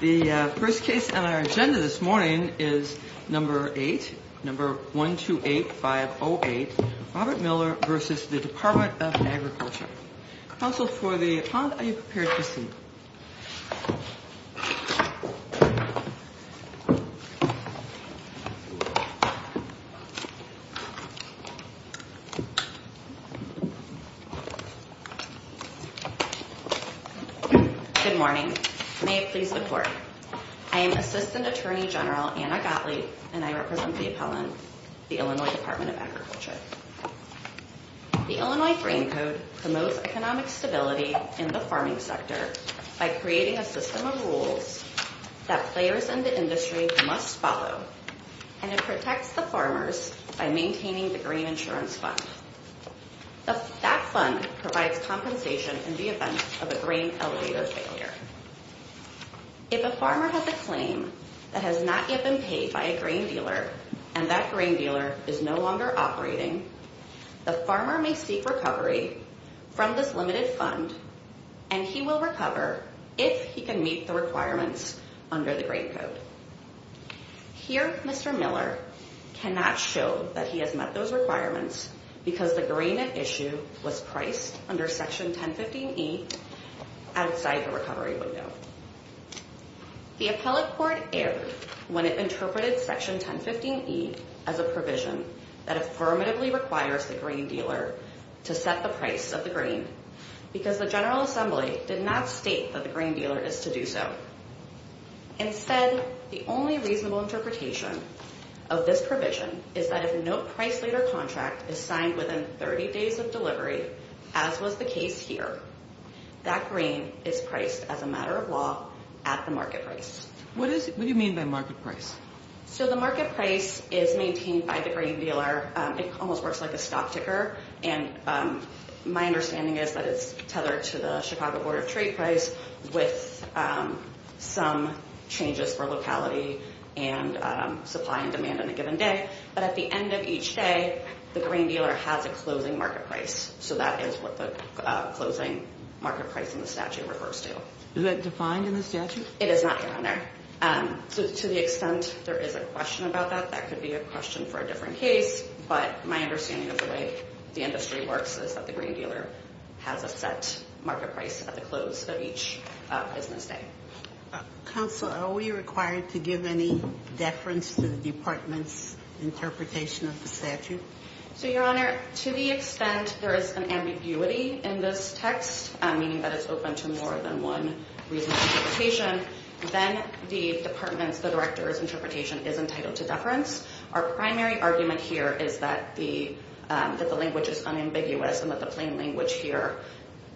The first case on our agenda this morning is number 8, number 128508, Robert Miller v. The Department of Agriculture. Counsel, for the pond, are you prepared to proceed? Good morning. May it please the Court. I am Assistant Attorney General Anna Gottlieb, and I represent the appellant, the Illinois Department of Agriculture. The Illinois Grain Code promotes economic stability in the farming sector by creating a system of rules that players in the industry must follow, and it protects the farmers by maintaining the grain insurance fund. That fund provides compensation in the event of a grain elevator failure. If a farmer has a claim that has not yet been paid by a grain dealer and that grain dealer is no longer operating, the farmer may seek recovery from this limited fund, and he will recover if he can meet the requirements under the Grain Code. Here, Mr. Miller cannot show that he has met those requirements because the grain at issue was priced under Section 1015E outside the recovery window. The appellate court erred when it interpreted Section 1015E as a provision that affirmatively requires the grain dealer to set the price of the grain because the General Assembly did not state that the grain dealer is to do so. Instead, the only reasonable interpretation of this provision is that if no price later contract is signed within 30 days of delivery, as was the case here, that grain is priced as a matter of law at the market price. What do you mean by market price? So the market price is maintained by the grain dealer. It almost works like a stop ticker, and my understanding is that it's tethered to the Chicago Board of Trade price with some changes for locality and supply and demand on a given day. But at the end of each day, the grain dealer has a closing market price. So that is what the closing market price in the statute refers to. Is that defined in the statute? It is not defined there. So to the extent there is a question about that, that could be a question for a different case. But my understanding of the way the industry works is that the grain dealer has a set market price at the close of each business day. Counsel, are we required to give any deference to the Department's interpretation of the statute? So, Your Honor, to the extent there is an ambiguity in this text, meaning that it's open to more than one reasonable interpretation, then the Department's, the Director's interpretation is entitled to deference. Our primary argument here is that the language is unambiguous and that the plain language here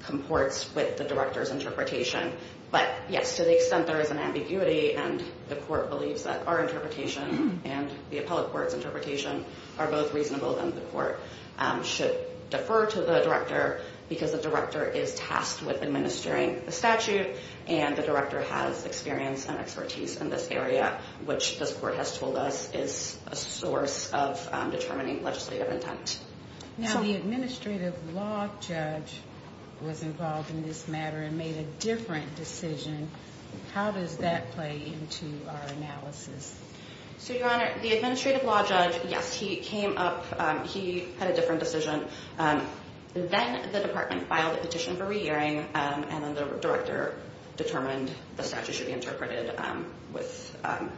comports with the Director's interpretation. But, yes, to the extent there is an ambiguity and the court believes that our interpretation and the appellate court's interpretation are both reasonable, then the court should defer to the Director because the Director is tasked with administering the statute and the Director has experience and expertise in this area, which this court has told us is a source of determining legislative intent. Now, the administrative law judge was involved in this matter and made a different decision. So, Your Honor, the administrative law judge, yes, he came up, he had a different decision. Then the Department filed a petition for re-hearing and then the Director determined the statute should be interpreted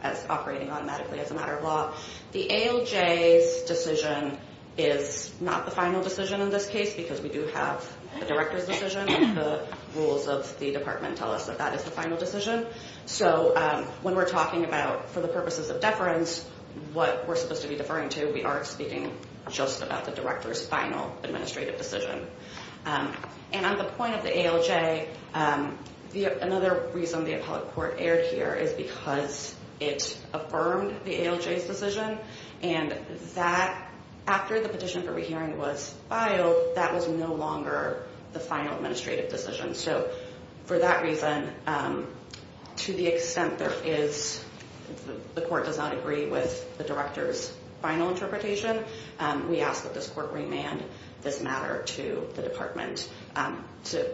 as operating automatically as a matter of law. The ALJ's decision is not the final decision in this case because we do have the Director's decision and the rules of the Department tell us that that is the final decision. So, when we're talking about, for the purposes of deference, what we're supposed to be deferring to, we are speaking just about the Director's final administrative decision. And on the point of the ALJ, another reason the appellate court erred here is because it affirmed the ALJ's decision and that, after the petition for re-hearing was filed, that was no longer the final administrative decision. So, for that reason, to the extent there is, the court does not agree with the Director's final interpretation, we ask that this court remand this matter to the Department to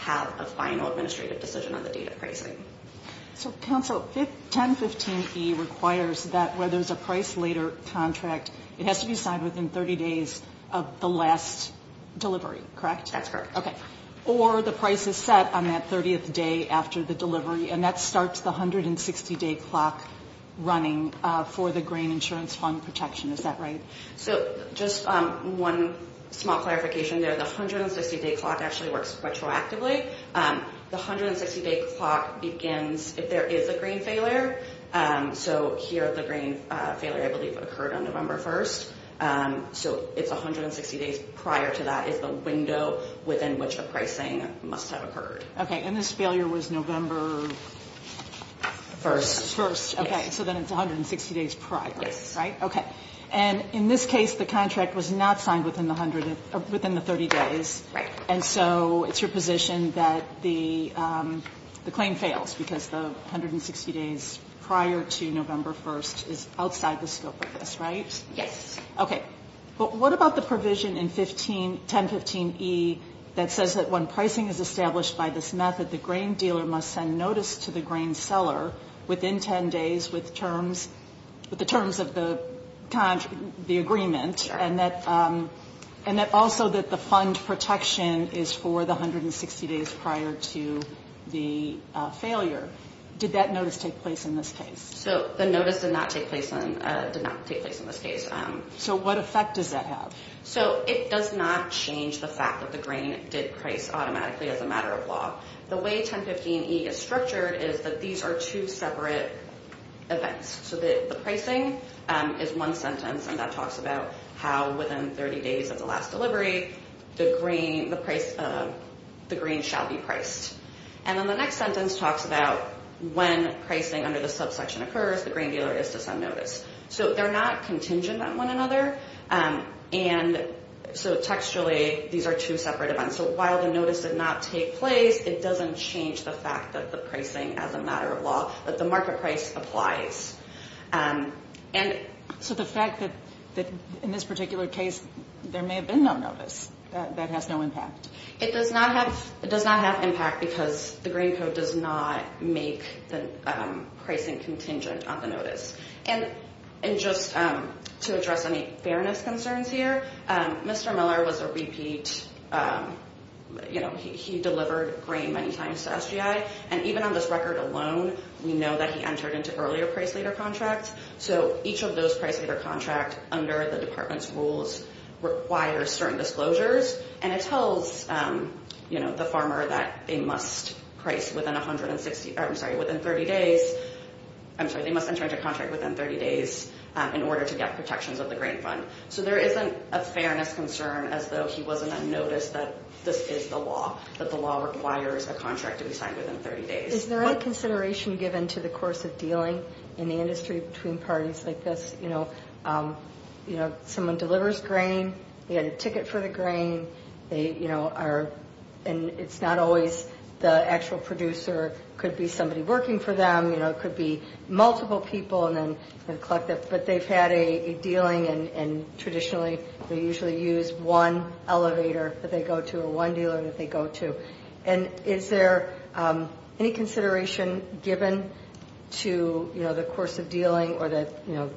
have a final administrative decision on the date of pricing. So, Counsel, 1015E requires that, where there's a price later contract, it has to be signed within 30 days of the last delivery, correct? That's correct. Okay. Or the price is set on that 30th day after the delivery and that starts the 160-day clock running for the Grain Insurance Fund protection. Is that right? So, just one small clarification there. The 160-day clock actually works retroactively. The 160-day clock begins if there is a grain failure. So, here, the grain failure, I believe, occurred on November 1st. So, it's 160 days prior to that is the window within which the pricing must have occurred. Okay. And this failure was November 1st. First. Okay. So, then it's 160 days prior. Yes. Right? Okay. And, in this case, the contract was not signed within the 30 days. Right. And so, it's your position that the claim fails because the 160 days prior to November 1st is outside the scope of this, right? Yes. Okay. But what about the provision in 1015E that says that when pricing is established by this method, the grain dealer must send notice to the grain seller within 10 days with the terms of the agreement and that also that the fund protection is for the 160 days prior to the failure. Did that notice take place in this case? So, the notice did not take place in this case. So, what effect does that have? So, it does not change the fact that the grain did price automatically as a matter of law. The way 1015E is structured is that these are two separate events. So, the pricing is one sentence and that talks about how within 30 days of the last delivery, the grain shall be priced. And then the next sentence talks about when pricing under the subsection occurs, the grain dealer is to send notice. So, they're not contingent on one another. And so, textually, these are two separate events. So, while the notice did not take place, it doesn't change the fact that the pricing as a matter of law, that the market price applies. And so, the fact that in this particular case, there may have been no notice, that has no impact? It does not have impact because the grain code does not make the pricing contingent on the notice. And just to address any fairness concerns here, Mr. Miller was a repeat, you know, he delivered grain many times to SGI. And even on this record alone, we know that he entered into earlier price later contracts. So, each of those price later contracts under the department's rules requires certain disclosures. And it tells, you know, the farmer that they must price within 160, I'm sorry, within 30 days. I'm sorry, they must enter into contract within 30 days in order to get protections of the grain fund. So, there isn't a fairness concern as though he wasn't on notice that this is the law, that the law requires a contract to be signed within 30 days. Is there any consideration given to the course of dealing in the industry between parties like this? You know, someone delivers grain, they get a ticket for the grain. They, you know, are, and it's not always the actual producer. It could be somebody working for them, you know, it could be multiple people and then collect it. But they've had a dealing and traditionally, they usually use one elevator that they go to or one dealer that they go to. And is there any consideration given to, you know, the course of dealing or that, you know,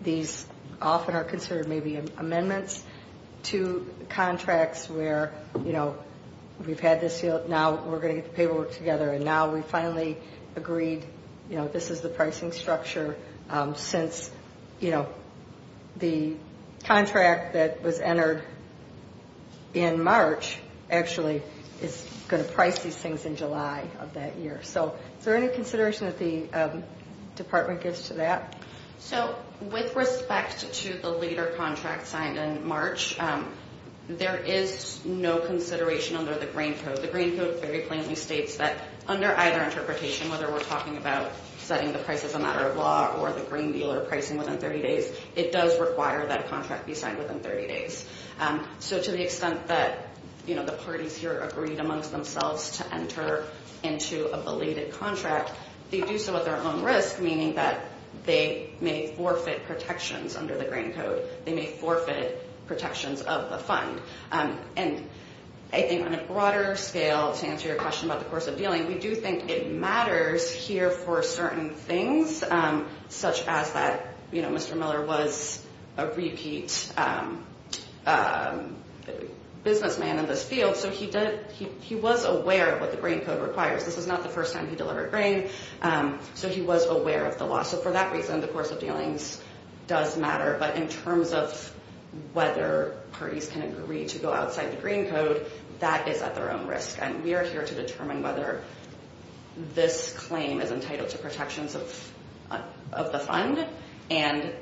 these often are considered maybe amendments to contracts where, you know, we've had this deal. Now, we're going to get the paperwork together. And now we finally agreed, you know, this is the pricing structure since, you know, the contract that was entered in March actually is going to price these things in July of that year. So, is there any consideration that the department gives to that? So, with respect to the later contract signed in March, there is no consideration under the grain code. The grain code very plainly states that under either interpretation, whether we're talking about setting the price as a matter of law or the grain dealer pricing within 30 days, it does require that a contract be signed within 30 days. So, to the extent that, you know, the parties here agreed amongst themselves to enter into a belated contract, they do so at their own risk, meaning that they may forfeit protections under the grain code. They may forfeit protections of the fund. And I think on a broader scale, to answer your question about the course of dealing, we do think it matters here for certain things, such as that, you know, Mr. Miller was a repeat businessman in this field. So, he was aware of what the grain code requires. This is not the first time he delivered grain. So, he was aware of the loss. So, for that reason, the course of dealings does matter. But in terms of whether parties can agree to go outside the grain code, that is at their own risk. And we are here to determine whether this claim is entitled to protections of the fund. And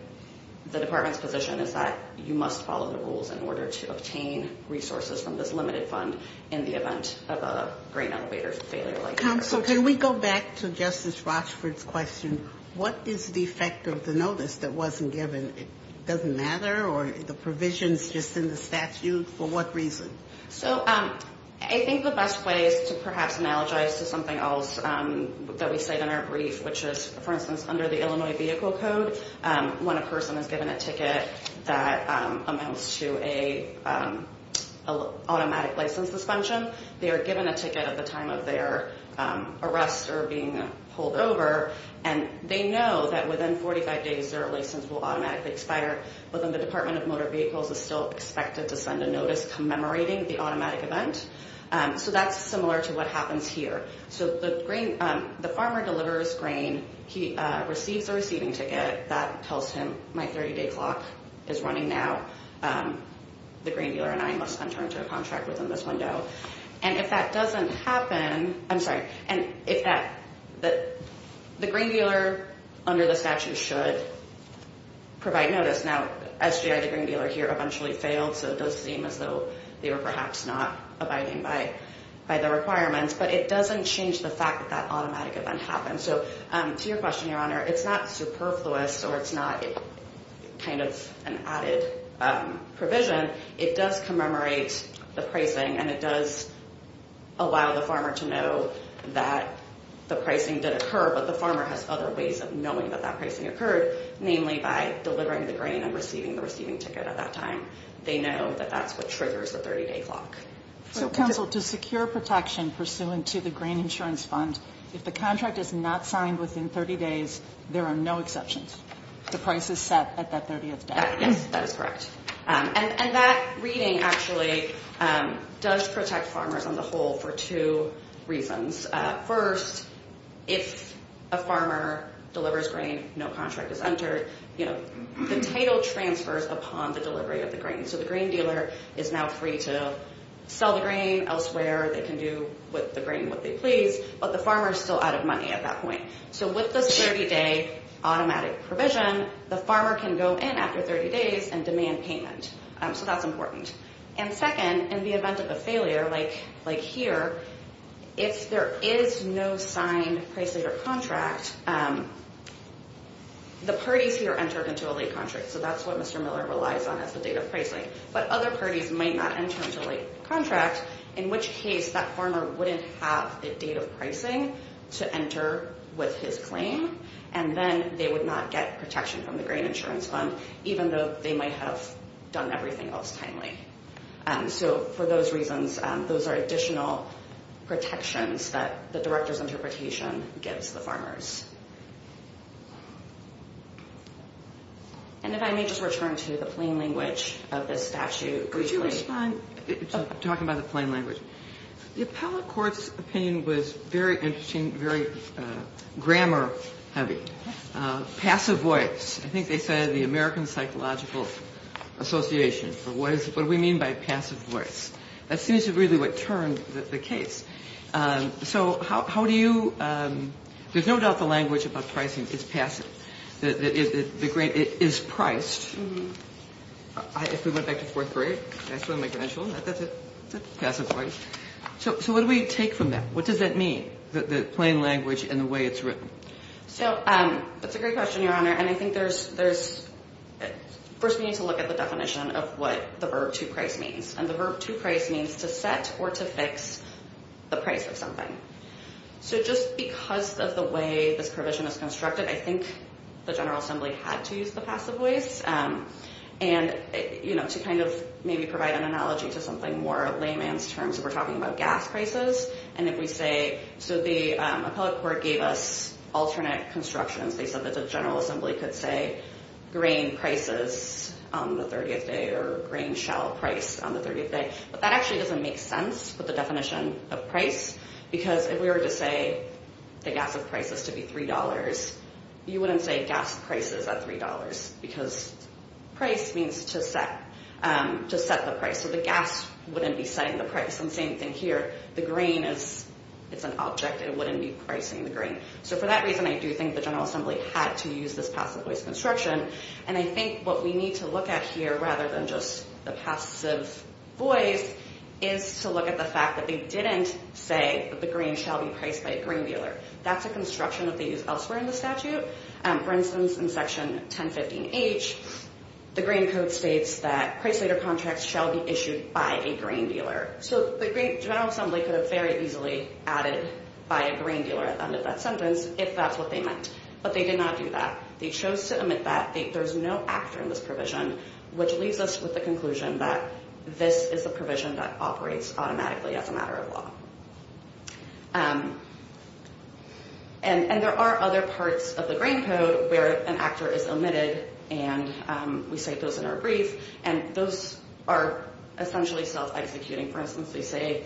the department's position is that you must follow the rules in order to obtain resources from this limited fund in the event of a grain elevator failure like this. Counsel, can we go back to Justice Rochford's question? What is the effect of the notice that wasn't given? It doesn't matter, or the provisions just in the statute? For what reason? So, I think the best way is to perhaps analogize to something else that we said in our brief, which is, for instance, under the Illinois Vehicle Code, when a person is given a ticket that amounts to an automatic license suspension, they are given a ticket at the time of their arrest or being pulled over, and they know that within 45 days their license will automatically expire. But then the Department of Motor Vehicles is still expected to send a notice commemorating the automatic event. So, that's similar to what happens here. So, the farmer delivers grain. He receives a receiving ticket that tells him, my 30-day clock is running now. The grain dealer and I must enter into a contract within this window. And if that doesn't happen, I'm sorry. And if that, the grain dealer under the statute should provide notice. Now, SGI, the grain dealer here, eventually failed, so it does seem as though they were perhaps not abiding by the requirements. But it doesn't change the fact that that automatic event happened. So, to your question, Your Honor, it's not superfluous or it's not kind of an added provision. It does commemorate the pricing, and it does allow the farmer to know that the pricing did occur, but the farmer has other ways of knowing that that pricing occurred, namely by delivering the grain and receiving the receiving ticket at that time. They know that that's what triggers the 30-day clock. So, counsel, to secure protection pursuant to the Grain Insurance Fund, if the contract is not signed within 30 days, there are no exceptions. The price is set at that 30th day. Yes, that is correct. And that reading actually does protect farmers on the whole for two reasons. First, if a farmer delivers grain, no contract is entered, you know, the title transfers upon the delivery of the grain. So, the grain dealer is now free to sell the grain elsewhere. They can do with the grain what they please. But the farmer is still out of money at that point. So, with this 30-day automatic provision, the farmer can go in after 30 days and demand payment. So, that's important. And second, in the event of a failure, like here, if there is no signed price later contract, the parties here entered into a late contract. So, that's what Mr. Miller relies on as the date of pricing. But other parties might not enter into a late contract, in which case that farmer wouldn't have a date of pricing to enter with his claim, and then they would not get protection from the Grain Insurance Fund, even though they might have done everything else timely. So, for those reasons, those are additional protections that the director's interpretation gives the farmers. And if I may just return to the plain language of this statute briefly. Talking about the plain language. The appellate court's opinion was very interesting, very grammar heavy. Passive voice. I think they said the American Psychological Association. What do we mean by passive voice? That seems to be really what turned the case. So, how do you – there's no doubt the language about pricing is passive. The grain is priced. If we went back to fourth grade, that's what I'm making an issue on. That's it. Passive voice. So, what do we take from that? What does that mean, the plain language and the way it's written? So, that's a great question, Your Honor. And I think there's – first, we need to look at the definition of what the verb to price means. And the verb to price means to set or to fix the price of something. So, just because of the way this provision is constructed, I think the General Assembly had to use the passive voice. And, you know, to kind of maybe provide an analogy to something more layman's terms, we're talking about gas prices. And if we say – so, the appellate court gave us alternate constructions. They said that the General Assembly could say grain prices on the 30th day or grain shell price on the 30th day. But that actually doesn't make sense with the definition of price because if we were to say the gas of price is to be $3, you wouldn't say gas prices at $3 because price means to set the price. So, the gas wouldn't be setting the price. And same thing here. The grain is – it's an object. It wouldn't be pricing the grain. So, for that reason, I do think the General Assembly had to use this passive voice construction. And I think what we need to look at here rather than just the passive voice is to look at the fact that they didn't say that the grain shall be priced by a grain dealer. That's a construction that they use elsewhere in the statute. For instance, in Section 1015H, the grain code states that price later contracts shall be issued by a grain dealer. So, the General Assembly could have very easily added by a grain dealer at the end of that sentence if that's what they meant. But they did not do that. They chose to omit that. There's no actor in this provision, which leaves us with the conclusion that this is a provision that operates automatically as a matter of law. And there are other parts of the grain code where an actor is omitted. And we cite those in our brief. And those are essentially self-executing. For instance, they say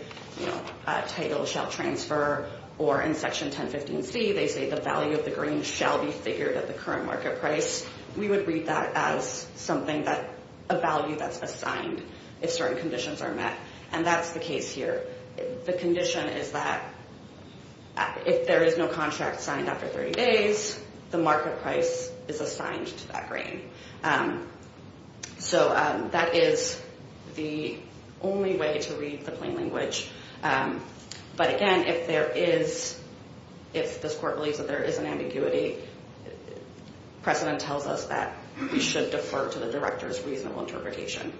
title shall transfer. Or in Section 1015C, they say the value of the grain shall be figured at the current market price. We would read that as a value that's assigned if certain conditions are met. And that's the case here. The condition is that if there is no contract signed after 30 days, the market price is assigned to that grain. So, that is the only way to read the plain language. But again, if this court believes that there is an ambiguity, precedent tells us that we should defer to the director's reasonable interpretation.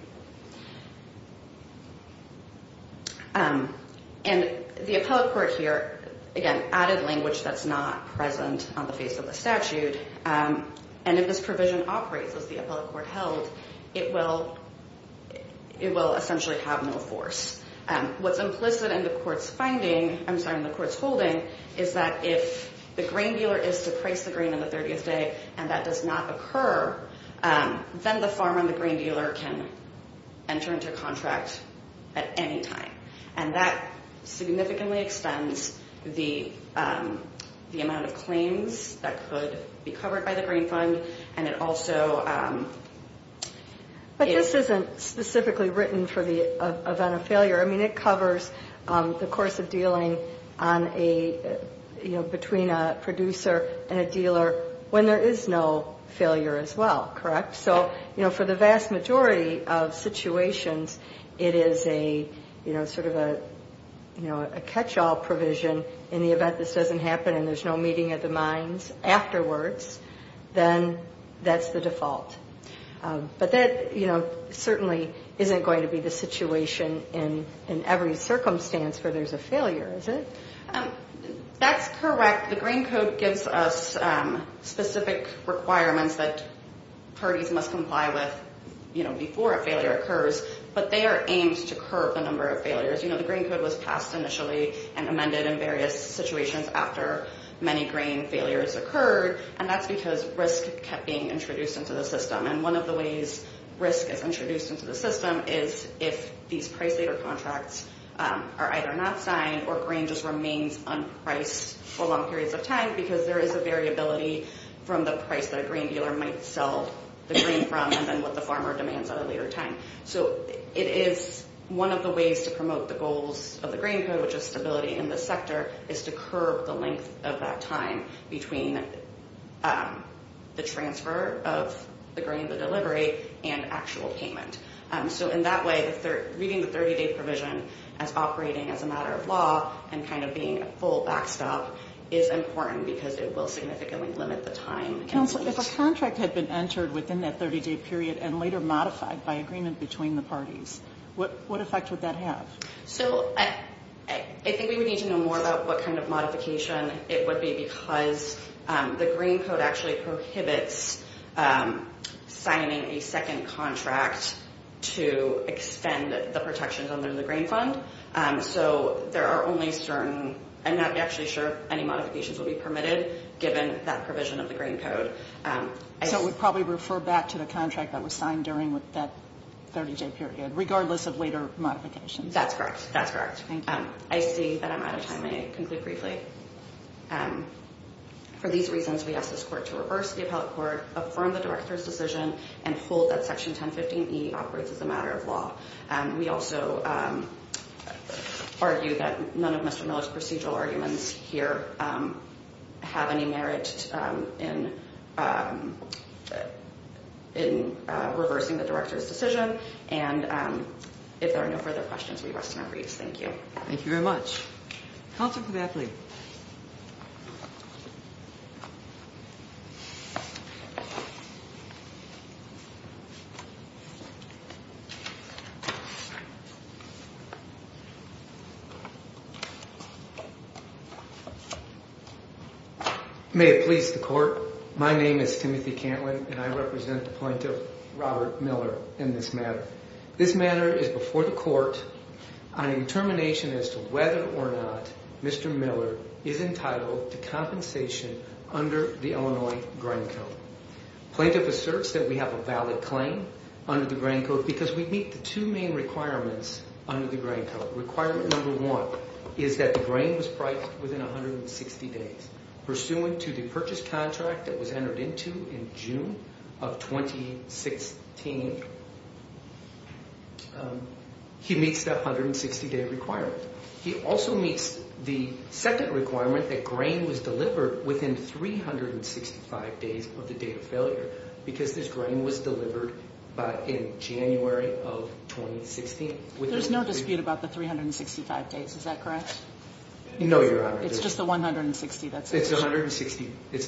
And the appellate court here, again, added language that's not present on the face of the statute. And if this provision operates as the appellate court held, it will essentially have no force. What's implicit in the court's finding, I'm sorry, in the court's holding, is that if the grain dealer is to price the grain on the 30th day and that does not occur, then the farmer and the grain dealer can enter into contract at any time. And that significantly extends the amount of claims that could be covered by the grain fund. And it also... But this isn't specifically written for the event of failure. I mean, it covers the course of dealing between a producer and a dealer when there is no failure as well, correct? So, you know, for the vast majority of situations, it is a, you know, sort of a catch-all provision in the event this doesn't happen and there's no meeting of the minds afterwards, then that's the default. But that, you know, certainly isn't going to be the situation in every circumstance where there's a failure, is it? That's correct. The grain code gives us specific requirements that parties must comply with, you know, before a failure occurs. But they are aimed to curb the number of failures. You know, the grain code was passed initially and amended in various situations after many grain failures occurred, and that's because risk kept being introduced into the system. And one of the ways risk is introduced into the system is if these price leader contracts are either not signed or grain just remains unpriced for long periods of time because there is a variability from the price that a grain dealer might sell the grain from and then what the farmer demands at a later time. So it is one of the ways to promote the goals of the grain code, which is stability in the sector, is to curb the length of that time between the transfer of the grain, the delivery, and actual payment. So in that way, reading the 30-day provision as operating as a matter of law and kind of being a full backstop is important because it will significantly limit the time. Counsel, if a contract had been entered within that 30-day period and later modified by agreement between the parties, what effect would that have? So I think we would need to know more about what kind of modification it would be because the grain code actually prohibits signing a second contract to extend the protections under the grain fund. So there are only certain, I'm not actually sure any modifications will be permitted given that provision of the grain code. So it would probably refer back to the contract that was signed during that 30-day period, regardless of later modifications. That's correct. That's correct. Thank you. I see that I'm out of time. I may conclude briefly. For these reasons, we ask this court to reverse the appellate court, affirm the director's decision, and hold that Section 1015E operates as a matter of law. We also argue that none of Mr. Miller's procedural arguments here have any merit in reversing the director's decision. And if there are no further questions, we rest in our griefs. Thank you. Thank you very much. Counsel for that plea. May it please the court, my name is Timothy Cantlin, and I represent the plaintiff, Robert Miller, in this matter. This matter is before the court on a determination as to whether or not Mr. Miller is entitled to compensation under the Illinois grain code. Plaintiff asserts that we have a valid claim under the grain code because we meet the two main requirements under the grain code. Requirement number one is that the grain was priced within 160 days. Pursuant to the purchase contract that was entered into in June of 2016, he meets the 160-day requirement. He also meets the second requirement that grain was delivered within 365 days of the date of failure because this grain was delivered in January of 2016. There's no dispute about the 365 days, is that correct? No, Your Honor. It's just the 160, that's it? It's the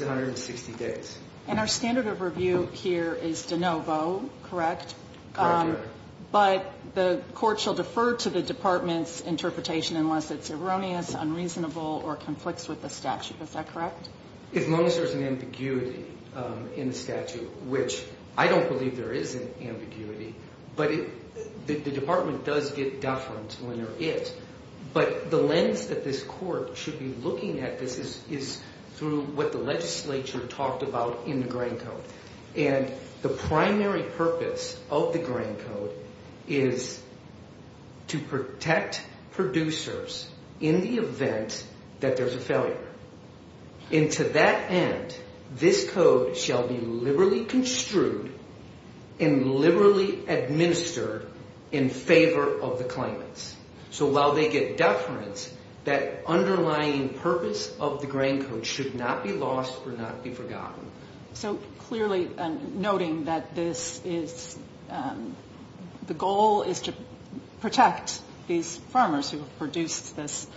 160 days. And our standard of review here is de novo, correct? Correct, Your Honor. But the court shall defer to the department's interpretation unless it's erroneous, unreasonable, or conflicts with the statute, is that correct? As long as there's an ambiguity in the statute, which I don't believe there is an ambiguity, but the department does get deference when they're it. But the lens that this court should be looking at this is through what the legislature talked about in the grain code. And the primary purpose of the grain code is to protect producers in the event that there's a failure. And to that end, this code shall be liberally construed and liberally administered in favor of the claimants. So while they get deference, that underlying purpose of the grain code should not be lost or not be forgotten. So clearly noting that this is the goal is to protect these farmers who have produced this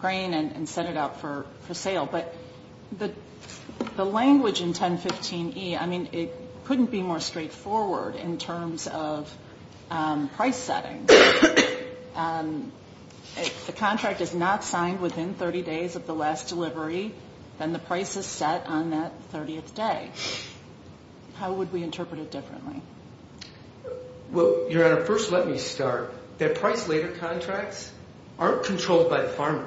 grain and set it out for sale. But the language in 1015E, I mean, it couldn't be more straightforward in terms of price setting. If the contract is not signed within 30 days of the last delivery, then the price is set on that 30th day. How would we interpret it differently? Well, Your Honor, first let me start. The price later contracts aren't controlled by the farmer.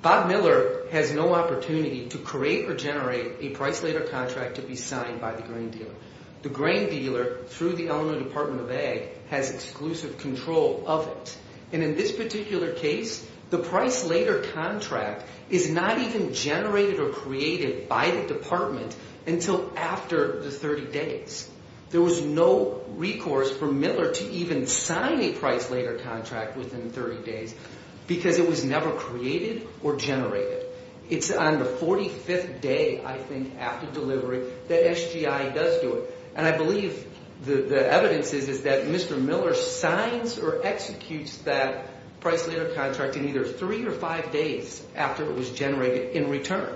Bob Miller has no opportunity to create or generate a price later contract to be signed by the grain dealer. The grain dealer, through the Eleanor Department of Ag, has exclusive control of it. And in this particular case, the price later contract is not even generated or created by the department until after the 30 days. There was no recourse for Miller to even sign a price later contract within 30 days because it was never created or generated. It's on the 45th day, I think, after delivery that SGI does do it. And I believe the evidence is that Mr. Miller signs or executes that price later contract in either three or five days after it was generated in return.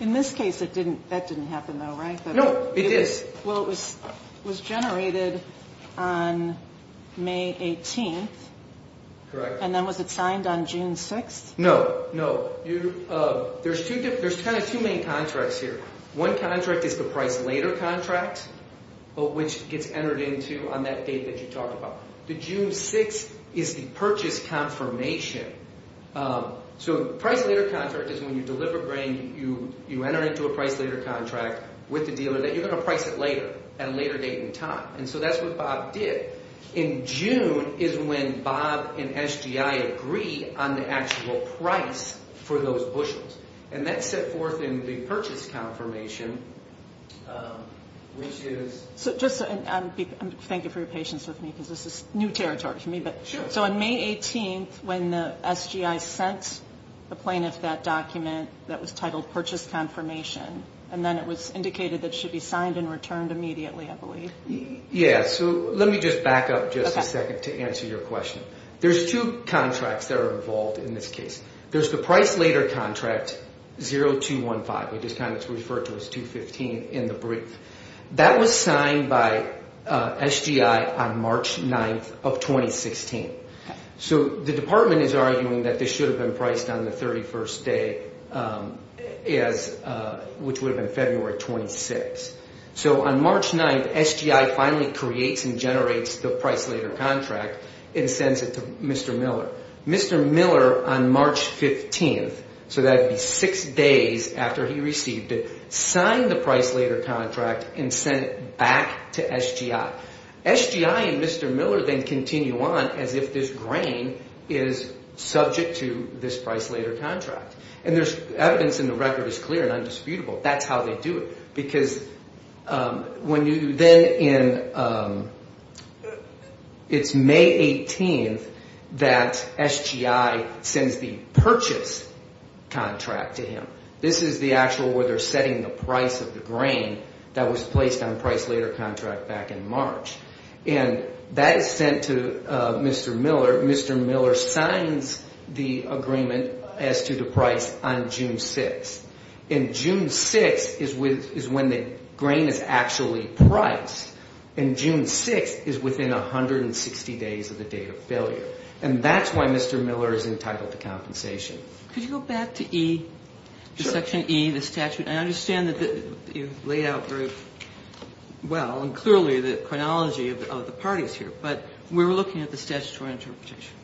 In this case, that didn't happen though, right? No, it did. Well, it was generated on May 18th. Correct. And then was it signed on June 6th? No, no. There's kind of two main contracts here. One contract is the price later contract, which gets entered into on that date that you talked about. The June 6th is the purchase confirmation. So price later contract is when you deliver grain, you enter into a price later contract with the dealer that you're going to price it later at a later date and time. And so that's what Bob did. In June is when Bob and SGI agree on the actual price for those bushels. And that's set forth in the purchase confirmation, which is... So just thank you for your patience with me because this is new territory for me. Sure. So on May 18th, when the SGI sent the plaintiff that document that was titled purchase confirmation, and then it was indicated that it should be signed and returned immediately, I believe. Yeah. So let me just back up just a second to answer your question. There's two contracts that are involved in this case. There's the price later contract, 0215, which is kind of referred to as 215 in the brief. That was signed by SGI on March 9th of 2016. So the department is arguing that this should have been priced on the 31st day, which would have been February 26th. So on March 9th, SGI finally creates and generates the price later contract and sends it to Mr. Miller. Mr. Miller on March 15th, so that would be six days after he received it, signed the price later contract and sent it back to SGI. SGI and Mr. Miller then continue on as if this grain is subject to this price later contract. And there's evidence and the record is clear and undisputable. That's how they do it. Because when you then in – it's May 18th that SGI sends the purchase contract to him. This is the actual where they're setting the price of the grain that was placed on price later contract back in March. And that is sent to Mr. Miller. Mr. Miller signs the agreement as to the price on June 6th. And June 6th is when the grain is actually priced. And June 6th is within 160 days of the date of failure. And that's why Mr. Miller is entitled to compensation. Could you go back to E, to Section E, the statute? I understand that you've laid out very well and clearly the chronology of the parties here. But we were looking at the statutory interpretation.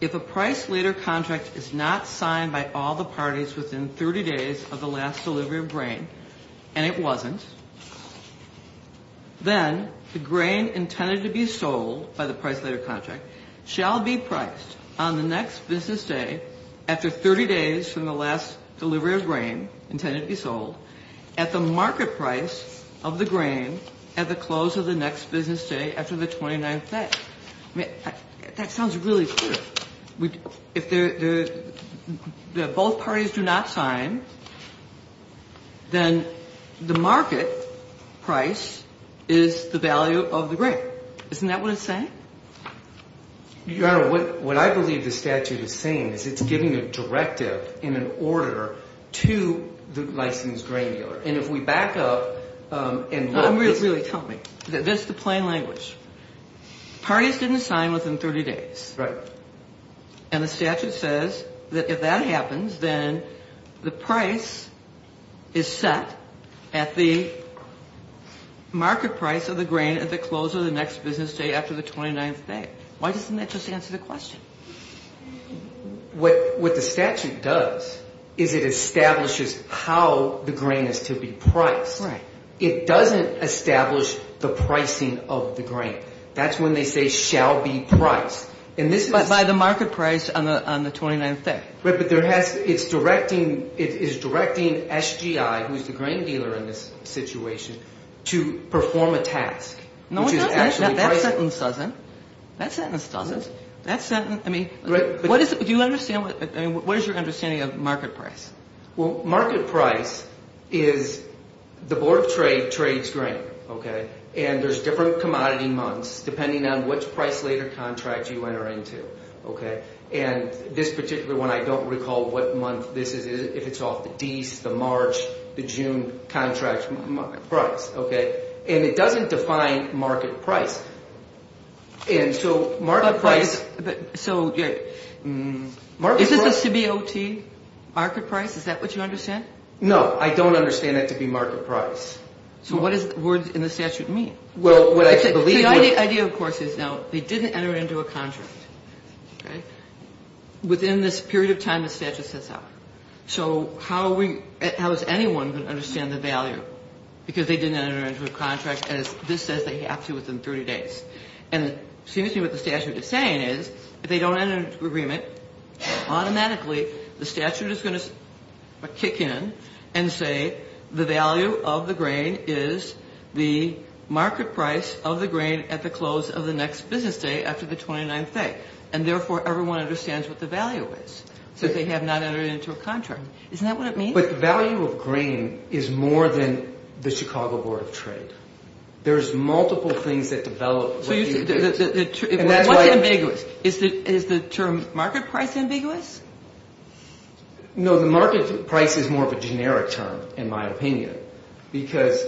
If a price later contract is not signed by all the parties within 30 days of the last delivery of grain and it wasn't, then the grain intended to be sold by the price later contract shall be priced on the next business day after 30 days from the last delivery of grain intended to be sold at the market price of the grain at the close of the next business day after the 29th day. I mean, that sounds really clear. If both parties do not sign, then the market price is the value of the grain. Isn't that what it's saying? Your Honor, what I believe the statute is saying is it's giving a directive in an order to the licensed grain dealer. And if we back up and look at this. This is the plain language. Parties didn't sign within 30 days. Right. And the statute says that if that happens, then the price is set at the market price of the grain at the close of the next business day after the 29th day. Why doesn't that just answer the question? What the statute does is it establishes how the grain is to be priced. Right. It doesn't establish the pricing of the grain. That's when they say shall be priced. But by the market price on the 29th day. Right. But it's directing SGI, who's the grain dealer in this situation, to perform a task. No, it doesn't. That sentence doesn't. That sentence doesn't. I mean, what is your understanding of market price? Well, market price is the Board of Trade trades grain. Okay. And there's different commodity months depending on which price later contract you enter into. Okay. And this particular one, I don't recall what month this is, if it's off the Dece, the March, the June contract price. Okay. And it doesn't define market price. And so market price. Is this a CBOT market price? Is that what you understand? No. I don't understand that to be market price. So what does the words in the statute mean? Well, what I believe. The idea, of course, is now they didn't enter into a contract. Okay. Within this period of time, the statute sets out. So how is anyone going to understand the value? Because they didn't enter into a contract, and this says they have to within 30 days. And it seems to me what the statute is saying is if they don't enter into agreement, automatically the statute is going to kick in and say the value of the grain is the market price of the grain at the close of the next business day after the 29th day. And, therefore, everyone understands what the value is. So they have not entered into a contract. Isn't that what it means? But the value of grain is more than the Chicago Board of Trade. There's multiple things that develop. So what's ambiguous? Is the term market price ambiguous? No, the market price is more of a generic term, in my opinion, because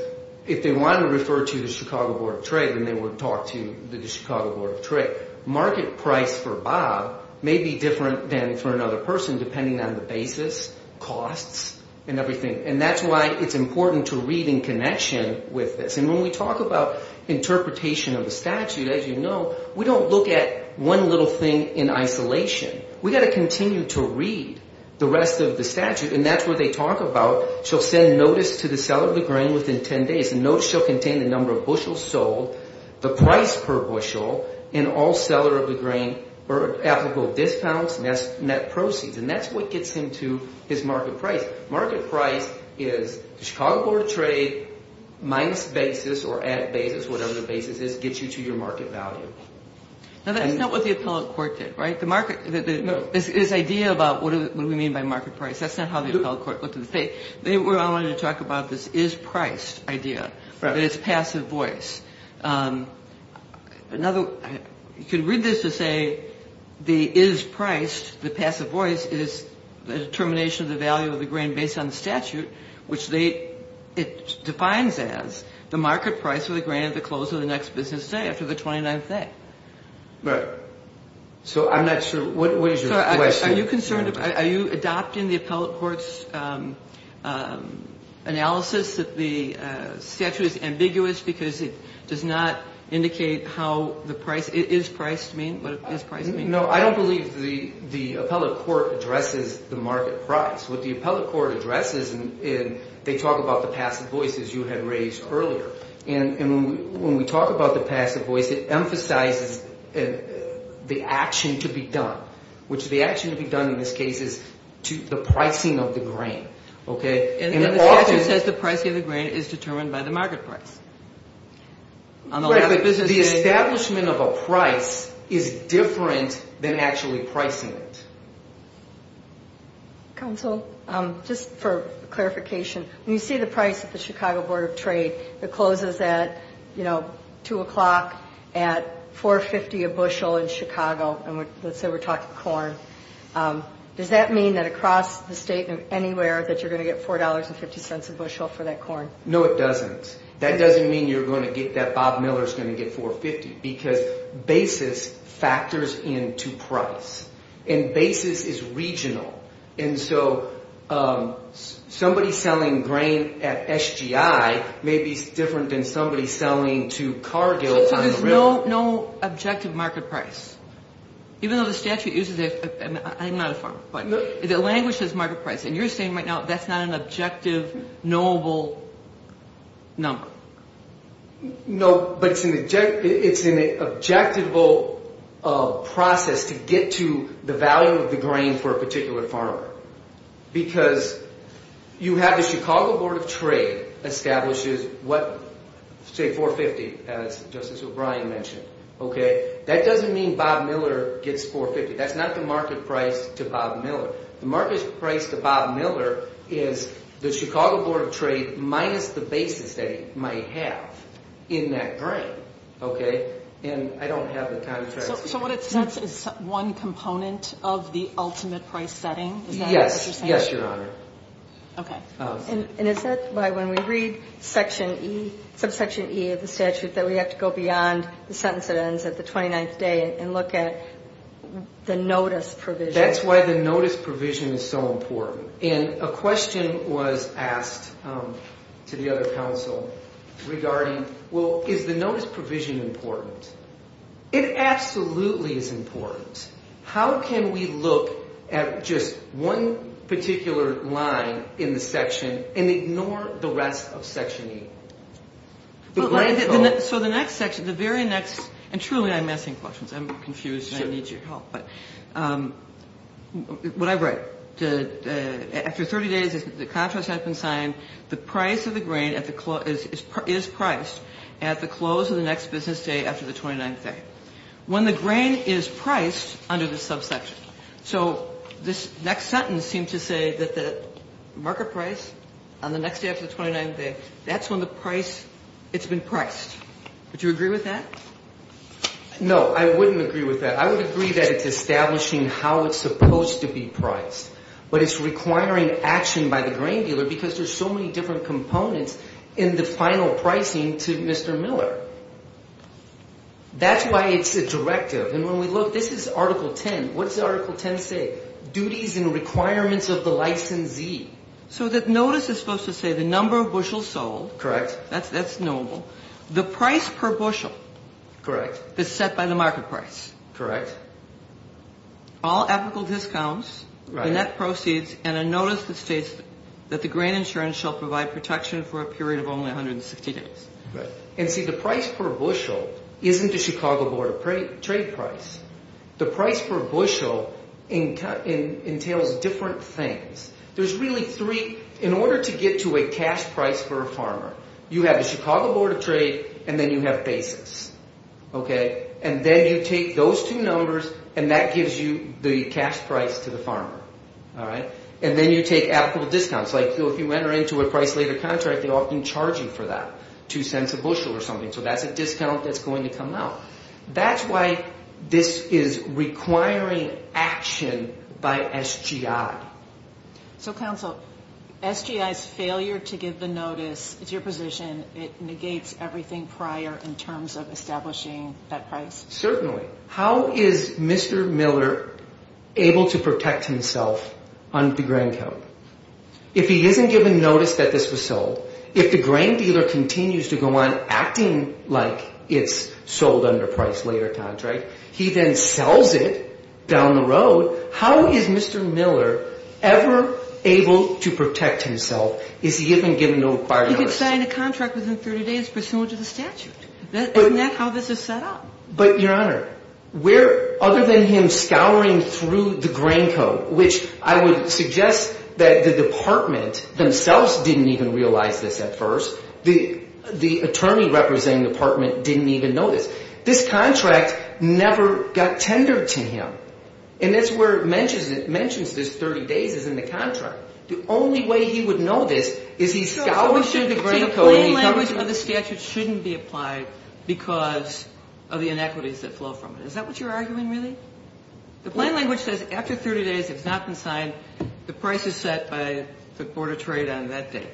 if they want to refer to the Chicago Board of Trade, then they would talk to the Chicago Board of Trade. Market price for Bob may be different than for another person depending on the basis, costs, and everything. And that's why it's important to read in connection with this. And when we talk about interpretation of the statute, as you know, we don't look at one little thing in isolation. We've got to continue to read the rest of the statute. And that's what they talk about. Shall send notice to the seller of the grain within 10 days. The notice shall contain the number of bushels sold, the price per bushel, and all seller of the grain applicable dispounts and net proceeds. And that's what gets him to his market price. Market price is the Chicago Board of Trade minus basis or added basis, whatever the basis is, gets you to your market value. Now, that's not what the appellate court did, right? No. This idea about what do we mean by market price, that's not how the appellate court looked at the case. They wanted to talk about this is priced idea, that it's passive voice. You can read this to say the is priced, the passive voice, is the determination of the value of the grain based on the statute, which it defines as the market price of the grain at the close of the next business day after the 29th day. Right. So I'm not sure. What is your question? Are you adopting the appellate court's analysis that the statute is ambiguous because it does not indicate how the price is priced? I don't believe the appellate court addresses the market price. What the appellate court addresses is they talk about the passive voice, as you had raised earlier. And when we talk about the passive voice, it emphasizes the action to be done, which the action to be done in this case is the pricing of the grain. Okay? And the statute says the pricing of the grain is determined by the market price. Right, but the establishment of a price is different than actually pricing it. Counsel, just for clarification, when you see the price of the Chicago Board of Trade that closes at, you know, 2 o'clock at $4.50 a bushel in Chicago, and let's say we're talking corn, does that mean that across the state and anywhere that you're going to get $4.50 a bushel for that corn? No, it doesn't. That doesn't mean you're going to get that Bob Miller is going to get $4.50 because basis factors into price. And basis is regional. And so somebody selling grain at SGI may be different than somebody selling to Cargill on the river. So there's no objective market price, even though the statute uses it. I'm not a farmer, but the language says market price, and you're saying right now that's not an objective knowable number. No, but it's an objectable process to get to the value of the grain for a particular farmer. Because you have the Chicago Board of Trade establishes what, say $4.50, as Justice O'Brien mentioned. Okay, that doesn't mean Bob Miller gets $4.50. That's not the market price to Bob Miller. The market price to Bob Miller is the Chicago Board of Trade minus the basis that he might have in that grain. Okay? And I don't have the contract. So what it says is one component of the ultimate price setting? Yes. Yes, Your Honor. Okay. And is that why when we read subsection E of the statute that we have to go beyond the sentence that ends at the 29th day and look at the notice provision? That's why the notice provision is so important. And a question was asked to the other counsel regarding, well, is the notice provision important? It absolutely is important. How can we look at just one particular line in the section and ignore the rest of section E? So the next section, the very next, and truly I'm asking questions. I'm confused and I need your help. But what I write, after 30 days the contract has been signed, the price of the grain is priced at the close of the next business day after the 29th day. When the grain is priced under the subsection. So this next sentence seems to say that the market price on the next day after the 29th day, that's when the price, it's been priced. Would you agree with that? No, I wouldn't agree with that. I would agree that it's establishing how it's supposed to be priced. But it's requiring action by the grain dealer because there's so many different components in the final pricing to Mr. Miller. That's why it's a directive. And when we look, this is Article 10. What does Article 10 say? Duties and requirements of the licensee. So the notice is supposed to say the number of bushels sold. Correct. That's knowable. The price per bushel. Correct. That's set by the market price. Correct. All ethical discounts. Right. The net proceeds and a notice that states that the grain insurance shall provide protection for a period of only 160 days. Right. And see, the price per bushel isn't the Chicago Board of Trade price. The price per bushel entails different things. There's really three. In order to get to a cash price for a farmer, you have the Chicago Board of Trade and then you have basis. And then you take those two numbers and that gives you the cash price to the farmer. And then you take ethical discounts. Like if you enter into a price later contract, they often charge you for that, two cents a bushel or something. So that's a discount that's going to come out. That's why this is requiring action by SGI. So, counsel, SGI's failure to give the notice, it's your position, it negates everything prior in terms of establishing that price? Certainly. How is Mr. Miller able to protect himself on the grain count? If he isn't given notice that this was sold, if the grain dealer continues to go on acting like it's sold under price later contract, he then sells it down the road. How is Mr. Miller ever able to protect himself if he isn't given no prior notice? He could sign a contract within 30 days pursuant to the statute. Isn't that how this is set up? But, Your Honor, other than him scouring through the grain code, which I would suggest that the department themselves didn't even realize this at first, the attorney representing the department didn't even know this. This contract never got tendered to him. And that's where it mentions this 30 days is in the contract. The only way he would know this is he scours through the grain code and he covers it. So the plain language of the statute shouldn't be applied because of the inequities that flow from it. Is that what you're arguing, really? The plain language says after 30 days, if it's not been signed, the price is set by the Board of Trade on that date.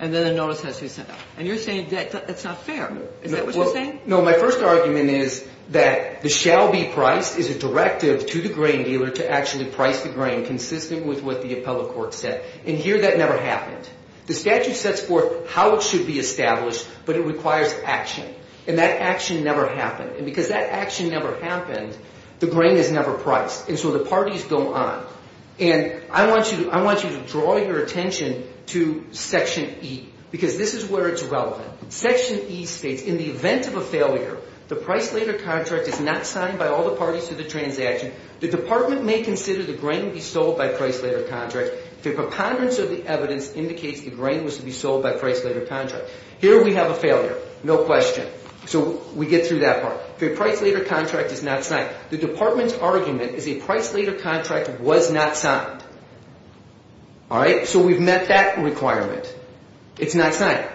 And then a notice has to be sent out. And you're saying that's not fair. Is that what you're saying? No, my first argument is that the shall be priced is a directive to the grain dealer to actually price the grain consistent with what the appellate court said. And here that never happened. The statute sets forth how it should be established, but it requires action. And that action never happened. And because that action never happened, the grain is never priced. And so the parties go on. And I want you to draw your attention to Section E because this is where it's relevant. Section E states in the event of a failure, the price later contract is not signed by all the parties to the transaction. The department may consider the grain be sold by price later contract. The preponderance of the evidence indicates the grain was to be sold by price later contract. Here we have a failure, no question. So we get through that part. The price later contract is not signed. The department's argument is a price later contract was not signed. All right? So we've met that requirement. It's not signed.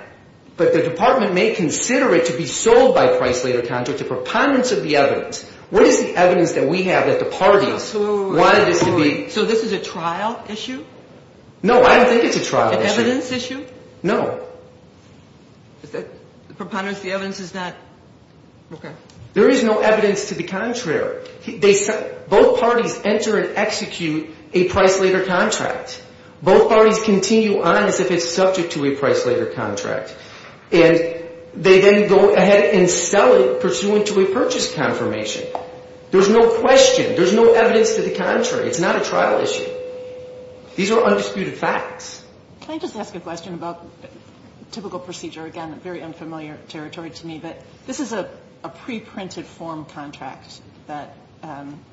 But the department may consider it to be sold by price later contract, the preponderance of the evidence. What is the evidence that we have that the parties wanted this to be? So this is a trial issue? No, I don't think it's a trial issue. An evidence issue? No. The preponderance of the evidence is not? Okay. There is no evidence to the contrary. Both parties enter and execute a price later contract. Both parties continue on as if it's subject to a price later contract. And they then go ahead and sell it pursuant to a purchase confirmation. There's no question. There's no evidence to the contrary. It's not a trial issue. These are undisputed facts. Can I just ask a question about typical procedure? Again, very unfamiliar territory to me. But this is a preprinted form contract that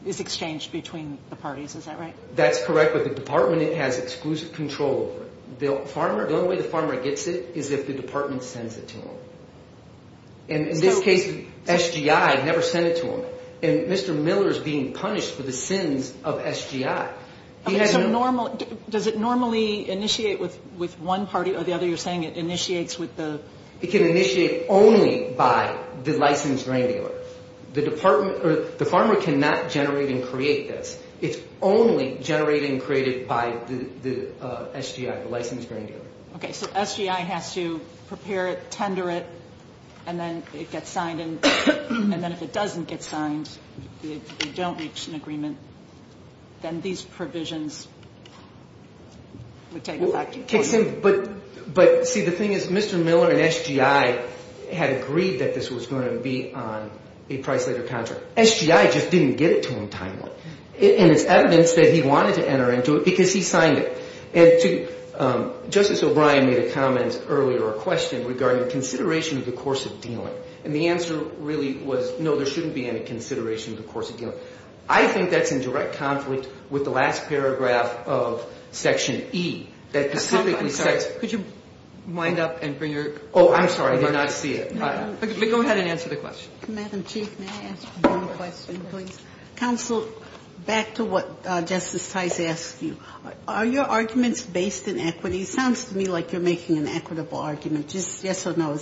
is exchanged between the parties. Is that right? That's correct. But the department has exclusive control over it. The only way the farmer gets it is if the department sends it to him. And in this case, SGI never sent it to him. And Mr. Miller is being punished for the sins of SGI. Does it normally initiate with one party or the other? You're saying it initiates with the? It can initiate only by the licensed grain dealer. The farmer cannot generate and create this. It's only generated and created by the SGI, the licensed grain dealer. Okay. So SGI has to prepare it, tender it, and then it gets signed. And then if it doesn't get signed, you don't reach an agreement, then these provisions would take effect. But, see, the thing is Mr. Miller and SGI had agreed that this was going to be on a price-later contract. SGI just didn't get it to him timely. And it's evidence that he wanted to enter into it because he signed it. And Justice O'Brien made a comment earlier, a question, regarding consideration of the course of dealing. And the answer really was, no, there shouldn't be any consideration of the course of dealing. I think that's in direct conflict with the last paragraph of Section E. Could you wind up and bring your? Oh, I'm sorry. I did not see it. Go ahead and answer the question. Madam Chief, may I ask one question, please? Counsel, back to what Justice Tice asked you. Are your arguments based in equity? It sounds to me like you're making an equitable argument. Is this yes or no?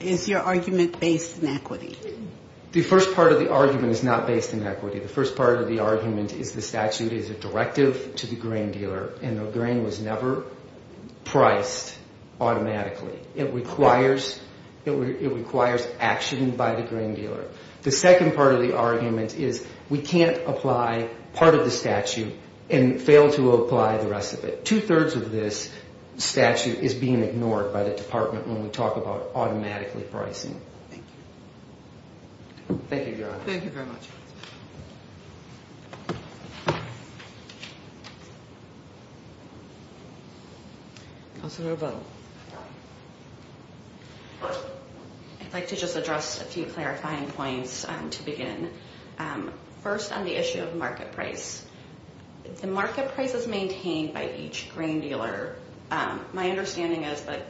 Is your argument based in equity? The first part of the argument is not based in equity. The first part of the argument is the statute is a directive to the grain dealer. And the grain was never priced automatically. It requires action by the grain dealer. The second part of the argument is we can't apply part of the statute and fail to apply the rest of it. Two-thirds of this statute is being ignored by the Department when we talk about automatically pricing. Thank you. Thank you, Your Honor. Thank you very much. Counselor O'Connell. I'd like to just address a few clarifying points to begin. First, on the issue of market price. The market price is maintained by each grain dealer. My understanding is that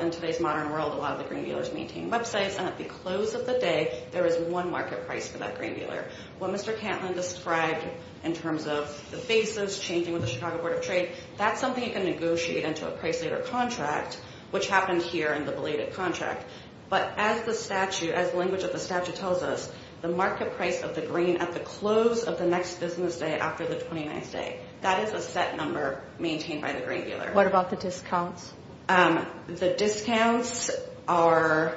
in today's modern world, a lot of the grain dealers maintain websites. And at the close of the day, there is one market price for that grain dealer. What Mr. Cantlin described in terms of the basis, changing with the Chicago Board of Trade, that's something you can negotiate into a price later contract, which happened here in the belated contract. But as the statute, as the language of the statute tells us, the market price of the grain at the close of the next business day after the 29th day, that is a set number maintained by the grain dealer. What about the discounts? The discounts are,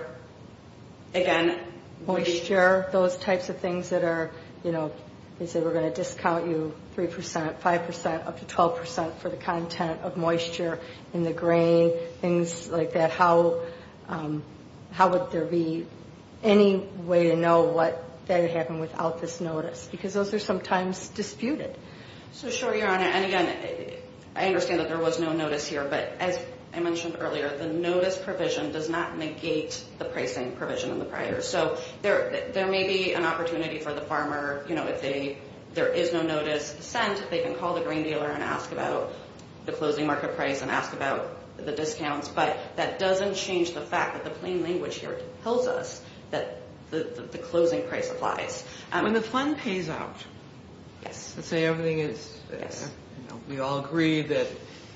again, moisture, those types of things that are, you know, they say we're going to discount you 3%, 5%, up to 12% for the content of moisture in the grain, things like that. How would there be any way to know what would happen without this notice? Because those are sometimes disputed. So sure, Your Honor. And again, I understand that there was no notice here. But as I mentioned earlier, the notice provision does not negate the pricing provision in the prior. So there may be an opportunity for the farmer, you know, if there is no notice sent, they can call the grain dealer and ask about the closing market price and ask about the discounts. But that doesn't change the fact that the plain language here tells us that the closing price applies. When the fund pays out, let's say everything is, you know, we all agree that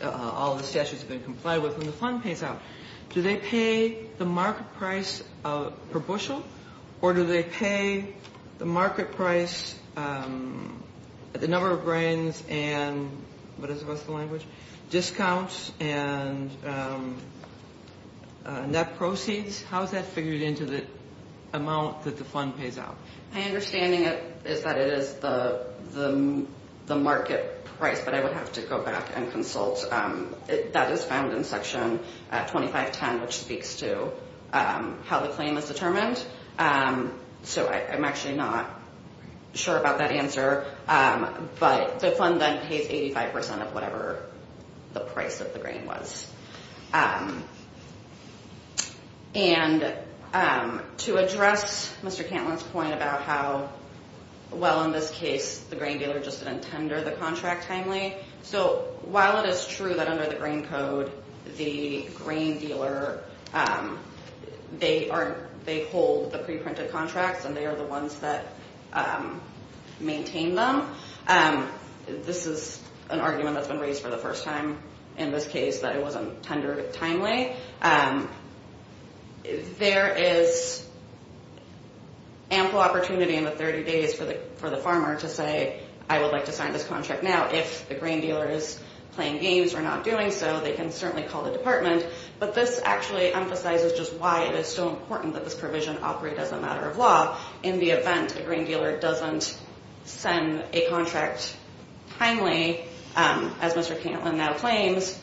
all the statutes have been complied with. When the fund pays out, do they pay the market price per bushel? Or do they pay the market price, the number of grains and what is the rest of the language, discounts and net proceeds? How is that figured into the amount that the fund pays out? My understanding is that it is the market price, but I would have to go back and consult. That is found in Section 2510, which speaks to how the claim is determined. So I'm actually not sure about that answer. But the fund then pays 85% of whatever the price of the grain was. And to address Mr. Cantlin's point about how well, in this case, the grain dealer just didn't tender the contract timely. So while it is true that under the grain code, the grain dealer, they hold the pre-printed contracts and they are the ones that maintain them. This is an argument that's been raised for the first time in this case that it wasn't tendered timely. There is ample opportunity in the 30 days for the farmer to say, I would like to sign this contract now. If the grain dealer is playing games or not doing so, they can certainly call the department. But this actually emphasizes just why it is so important that this provision operate as a matter of law. In the event a grain dealer doesn't send a contract timely, as Mr. Cantlin now claims,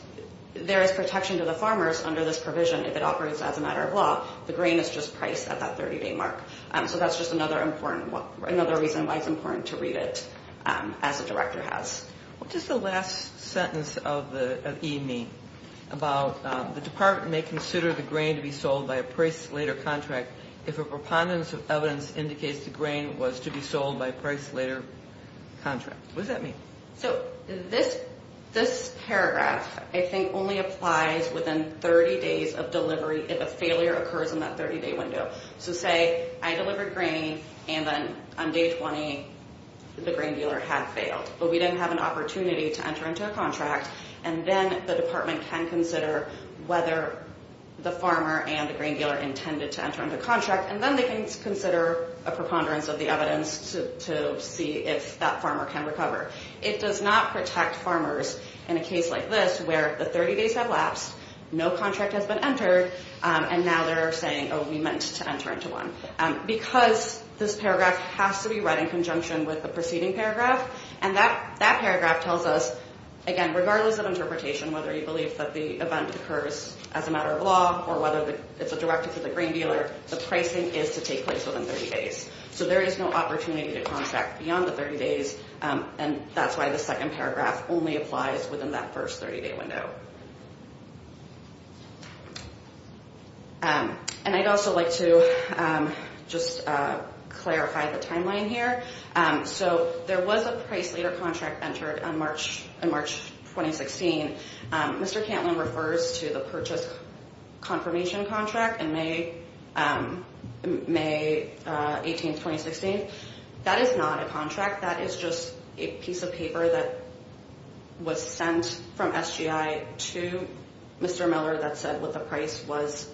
there is protection to the farmers under this provision if it operates as a matter of law. The grain is just priced at that 30-day mark. So that's just another reason why it's important to read it as the director has. What does the last sentence of E mean? About the department may consider the grain to be sold by a price later contract if a preponderance of evidence indicates the grain was to be sold by a price later contract. What does that mean? So this paragraph, I think, only applies within 30 days of delivery if a failure occurs in that 30-day window. So say I delivered grain and then on day 20 the grain dealer had failed. But we didn't have an opportunity to enter into a contract. And then the department can consider whether the farmer and the grain dealer intended to enter into contract. And then they can consider a preponderance of the evidence to see if that farmer can recover. It does not protect farmers in a case like this where the 30 days have lapsed, no contract has been entered, and now they're saying, oh, we meant to enter into one. Because this paragraph has to be read in conjunction with the preceding paragraph, and that paragraph tells us, again, regardless of interpretation, whether you believe that the event occurs as a matter of law or whether it's a directive to the grain dealer, the pricing is to take place within 30 days. So there is no opportunity to contract beyond the 30 days, and that's why the second paragraph only applies within that first 30-day window. And I'd also like to just clarify the timeline here. So there was a price leader contract entered in March 2016. Mr. Cantlin refers to the purchase confirmation contract in May 18, 2016. That is not a contract. That is just a piece of paper that was sent from SGI to Mr. Miller that said what the price was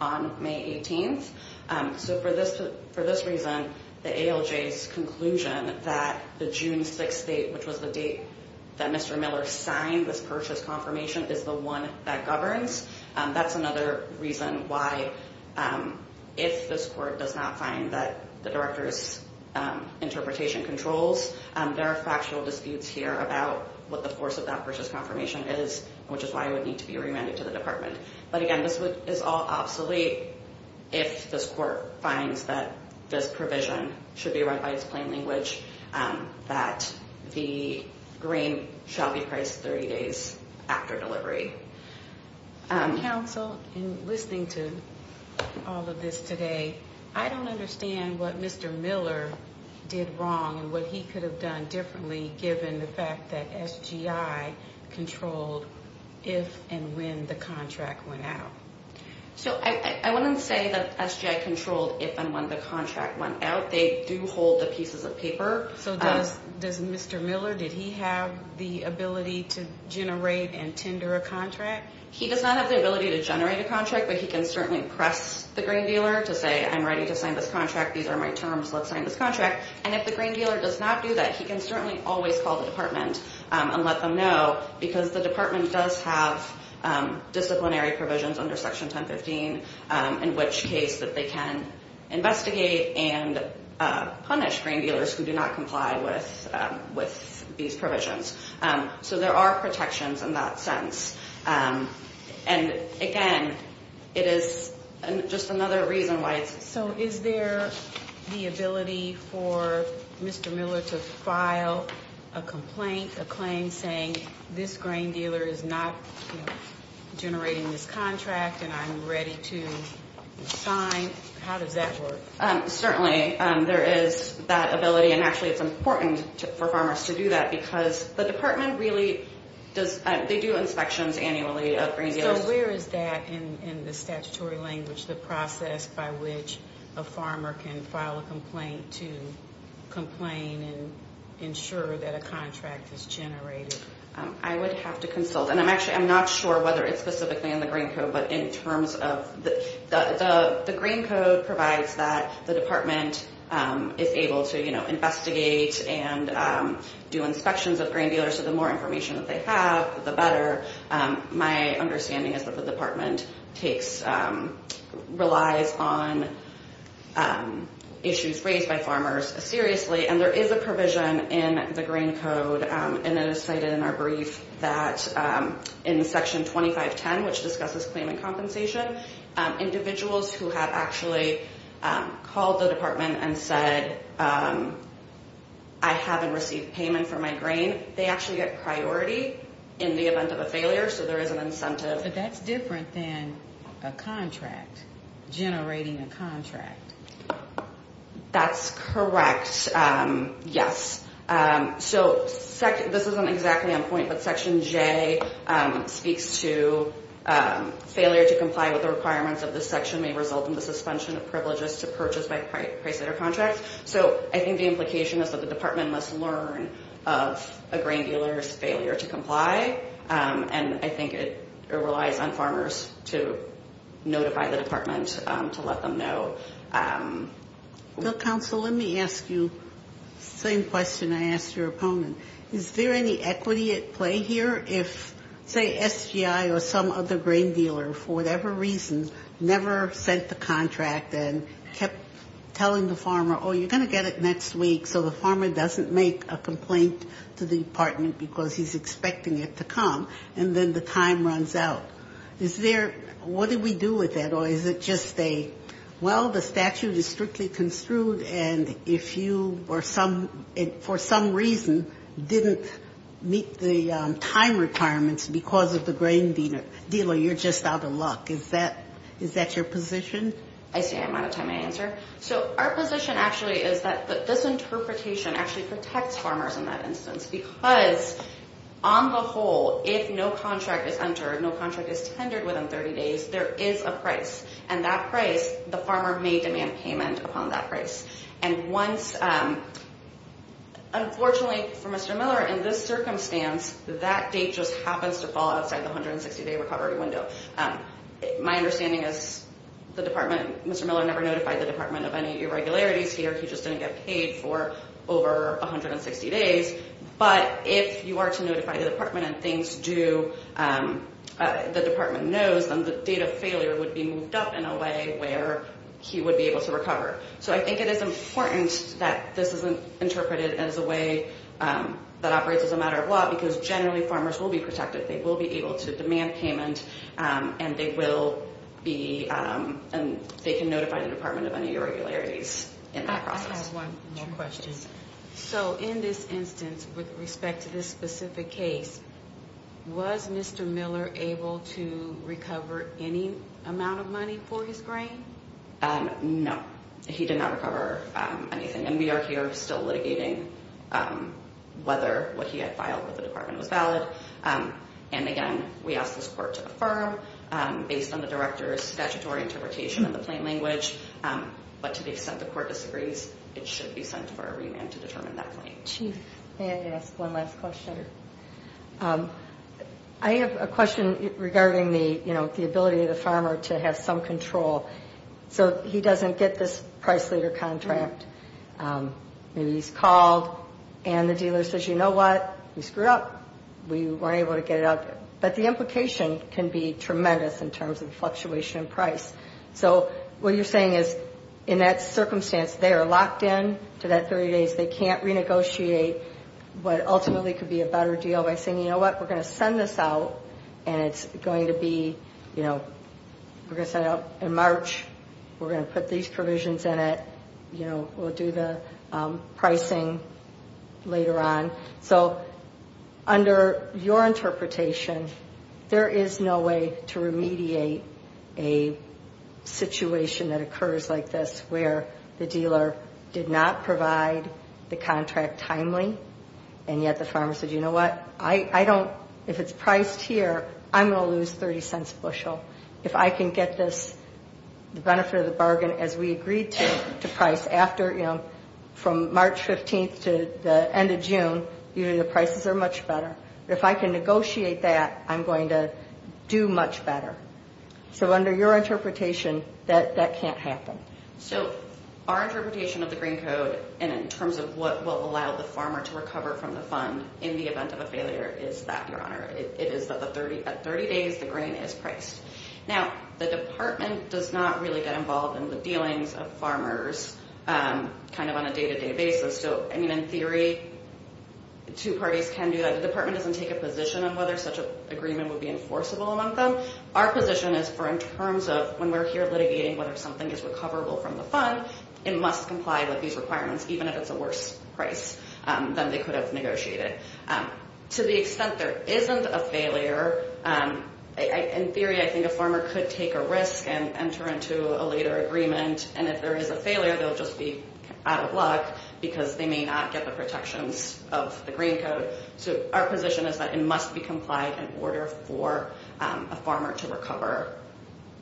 on May 18. So for this reason, the ALJ's conclusion that the June 6 date, which was the date that Mr. Miller signed this purchase confirmation, is the one that governs, that's another reason why if this court does not find that the director's interpretation controls, there are factual disputes here about what the force of that purchase confirmation is, which is why it would need to be remanded to the department. But again, this is all obsolete if this court finds that this provision should be read by its plain language, that the grain shall be priced 30 days after delivery. Counsel, in listening to all of this today, I don't understand what Mr. Miller did wrong and what he could have done differently given the fact that SGI controlled if and when the contract went out. So I wouldn't say that SGI controlled if and when the contract went out. But they do hold the pieces of paper. So does Mr. Miller, did he have the ability to generate and tender a contract? He does not have the ability to generate a contract, but he can certainly press the grain dealer to say, I'm ready to sign this contract, these are my terms, let's sign this contract. And if the grain dealer does not do that, he can certainly always call the department and let them know, because the department does have disciplinary provisions under Section 1015, in which case that they can investigate and punish grain dealers who do not comply with these provisions. So there are protections in that sense. And again, it is just another reason why it's – So is there the ability for Mr. Miller to file a complaint, a claim, saying this grain dealer is not generating this contract and I'm ready to sign? How does that work? Certainly, there is that ability. And actually, it's important for farmers to do that, because the department really does – they do inspections annually of grain dealers. So where is that in the statutory language, by which a farmer can file a complaint to complain and ensure that a contract is generated? I would have to consult. And I'm actually – I'm not sure whether it's specifically in the grain code, but in terms of – the grain code provides that the department is able to, you know, investigate and do inspections of grain dealers. So the more information that they have, the better. My understanding is that the department takes – relies on issues raised by farmers seriously. And there is a provision in the grain code, and it is cited in our brief, that in Section 2510, which discusses claimant compensation, individuals who have actually called the department and said, I haven't received payment for my grain, they actually get priority in the event of a failure. So there is an incentive. But that's different than a contract, generating a contract. That's correct, yes. So this isn't exactly on point, but Section J speaks to failure to comply with the requirements of this section may result in the suspension of privileges to purchase by price of their contract. So I think the implication is that the department must learn of a grain dealer's failure to comply. And I think it relies on farmers to notify the department to let them know. Well, counsel, let me ask you the same question I asked your opponent. Is there any equity at play here if, say, SGI or some other grain dealer, for whatever reason, never sent the contract and kept telling the farmer, oh, you're going to get it next week, so the farmer doesn't make a complaint to the department because he's expecting it to come, and then the time runs out? Is there what do we do with that? Or is it just a, well, the statute is strictly construed, and if you for some reason didn't meet the time requirements because of the grain dealer, you're just out of luck. Is that your position? I see I'm out of time to answer. So our position actually is that this interpretation actually protects farmers in that instance because on the whole, if no contract is entered, no contract is tendered within 30 days, there is a price, and that price, the farmer may demand payment upon that price. And once, unfortunately for Mr. Miller, in this circumstance, that date just happens to fall outside the 160-day recovery window. My understanding is the department, Mr. Miller never notified the department of any irregularities here. He just didn't get paid for over 160 days. But if you are to notify the department and things do, the department knows, then the date of failure would be moved up in a way where he would be able to recover. So I think it is important that this is interpreted as a way that operates as a matter of law because generally farmers will be protected. They will be able to demand payment, and they can notify the department of any irregularities in that process. I have one more question. So in this instance, with respect to this specific case, was Mr. Miller able to recover any amount of money for his grain? No, he did not recover anything. And we are here still litigating whether what he had filed with the department was valid. And again, we asked this court to affirm based on the director's statutory interpretation of the plain language. But to the extent the court disagrees, it should be sent for a remand to determine that claim. Chief, may I ask one last question? I have a question regarding the ability of the farmer to have some control. So he doesn't get this price leader contract. Maybe he's called and the dealer says, you know what, we screwed up. We weren't able to get it out. But the implication can be tremendous in terms of fluctuation in price. So what you're saying is in that circumstance, they are locked in to that 30 days. They can't renegotiate what ultimately could be a better deal by saying, you know what, we're going to send this out. And it's going to be, you know, we're going to send it out in March. We're going to put these provisions in it. You know, we'll do the pricing later on. So under your interpretation, there is no way to remediate a situation that occurs like this where the dealer did not provide the contract timely. And yet the farmer said, you know what, I don't, if it's priced here, I'm going to lose 30 cents a bushel. If I can get this benefit of the bargain as we agreed to price after, you know, from March 15th to the end of June, you know, the prices are much better. If I can negotiate that, I'm going to do much better. So under your interpretation, that can't happen. So our interpretation of the Green Code and in terms of what will allow the farmer to recover from the fund in the event of a failure is that, Your Honor. It is that at 30 days, the grain is priced. Now, the department does not really get involved in the dealings of farmers kind of on a day-to-day basis. So, I mean, in theory, two parties can do that. The department doesn't take a position on whether such an agreement would be enforceable among them. Our position is for in terms of when we're here litigating whether something is recoverable from the fund, it must comply with these requirements, even if it's a worse price than they could have negotiated. To the extent there isn't a failure, in theory, I think a farmer could take a risk and enter into a later agreement. And if there is a failure, they'll just be out of luck because they may not get the protections of the Green Code. So our position is that it must be complied in order for a farmer to recover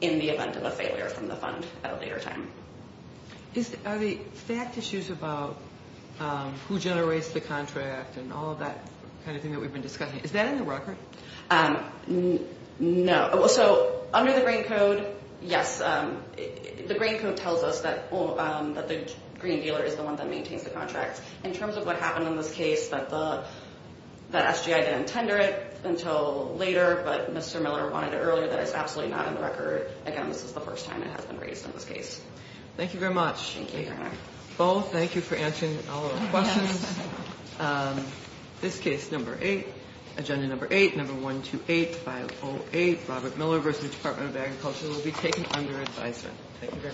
in the event of a failure from the fund at a later time. Are the fact issues about who generates the contract and all of that kind of thing that we've been discussing, is that in the record? No. So under the Green Code, yes. The Green Code tells us that the green dealer is the one that maintains the contract. In terms of what happened in this case, that SGI didn't tender it until later, but Mr. Miller wanted it earlier, that is absolutely not in the record. Again, this is the first time it has been raised in this case. Thank you very much. Thank you, Your Honor. Both, thank you for answering all of our questions. This case, number eight, agenda number eight, number 128508, Robert Miller v. Department of Agriculture, will be taken under advisement.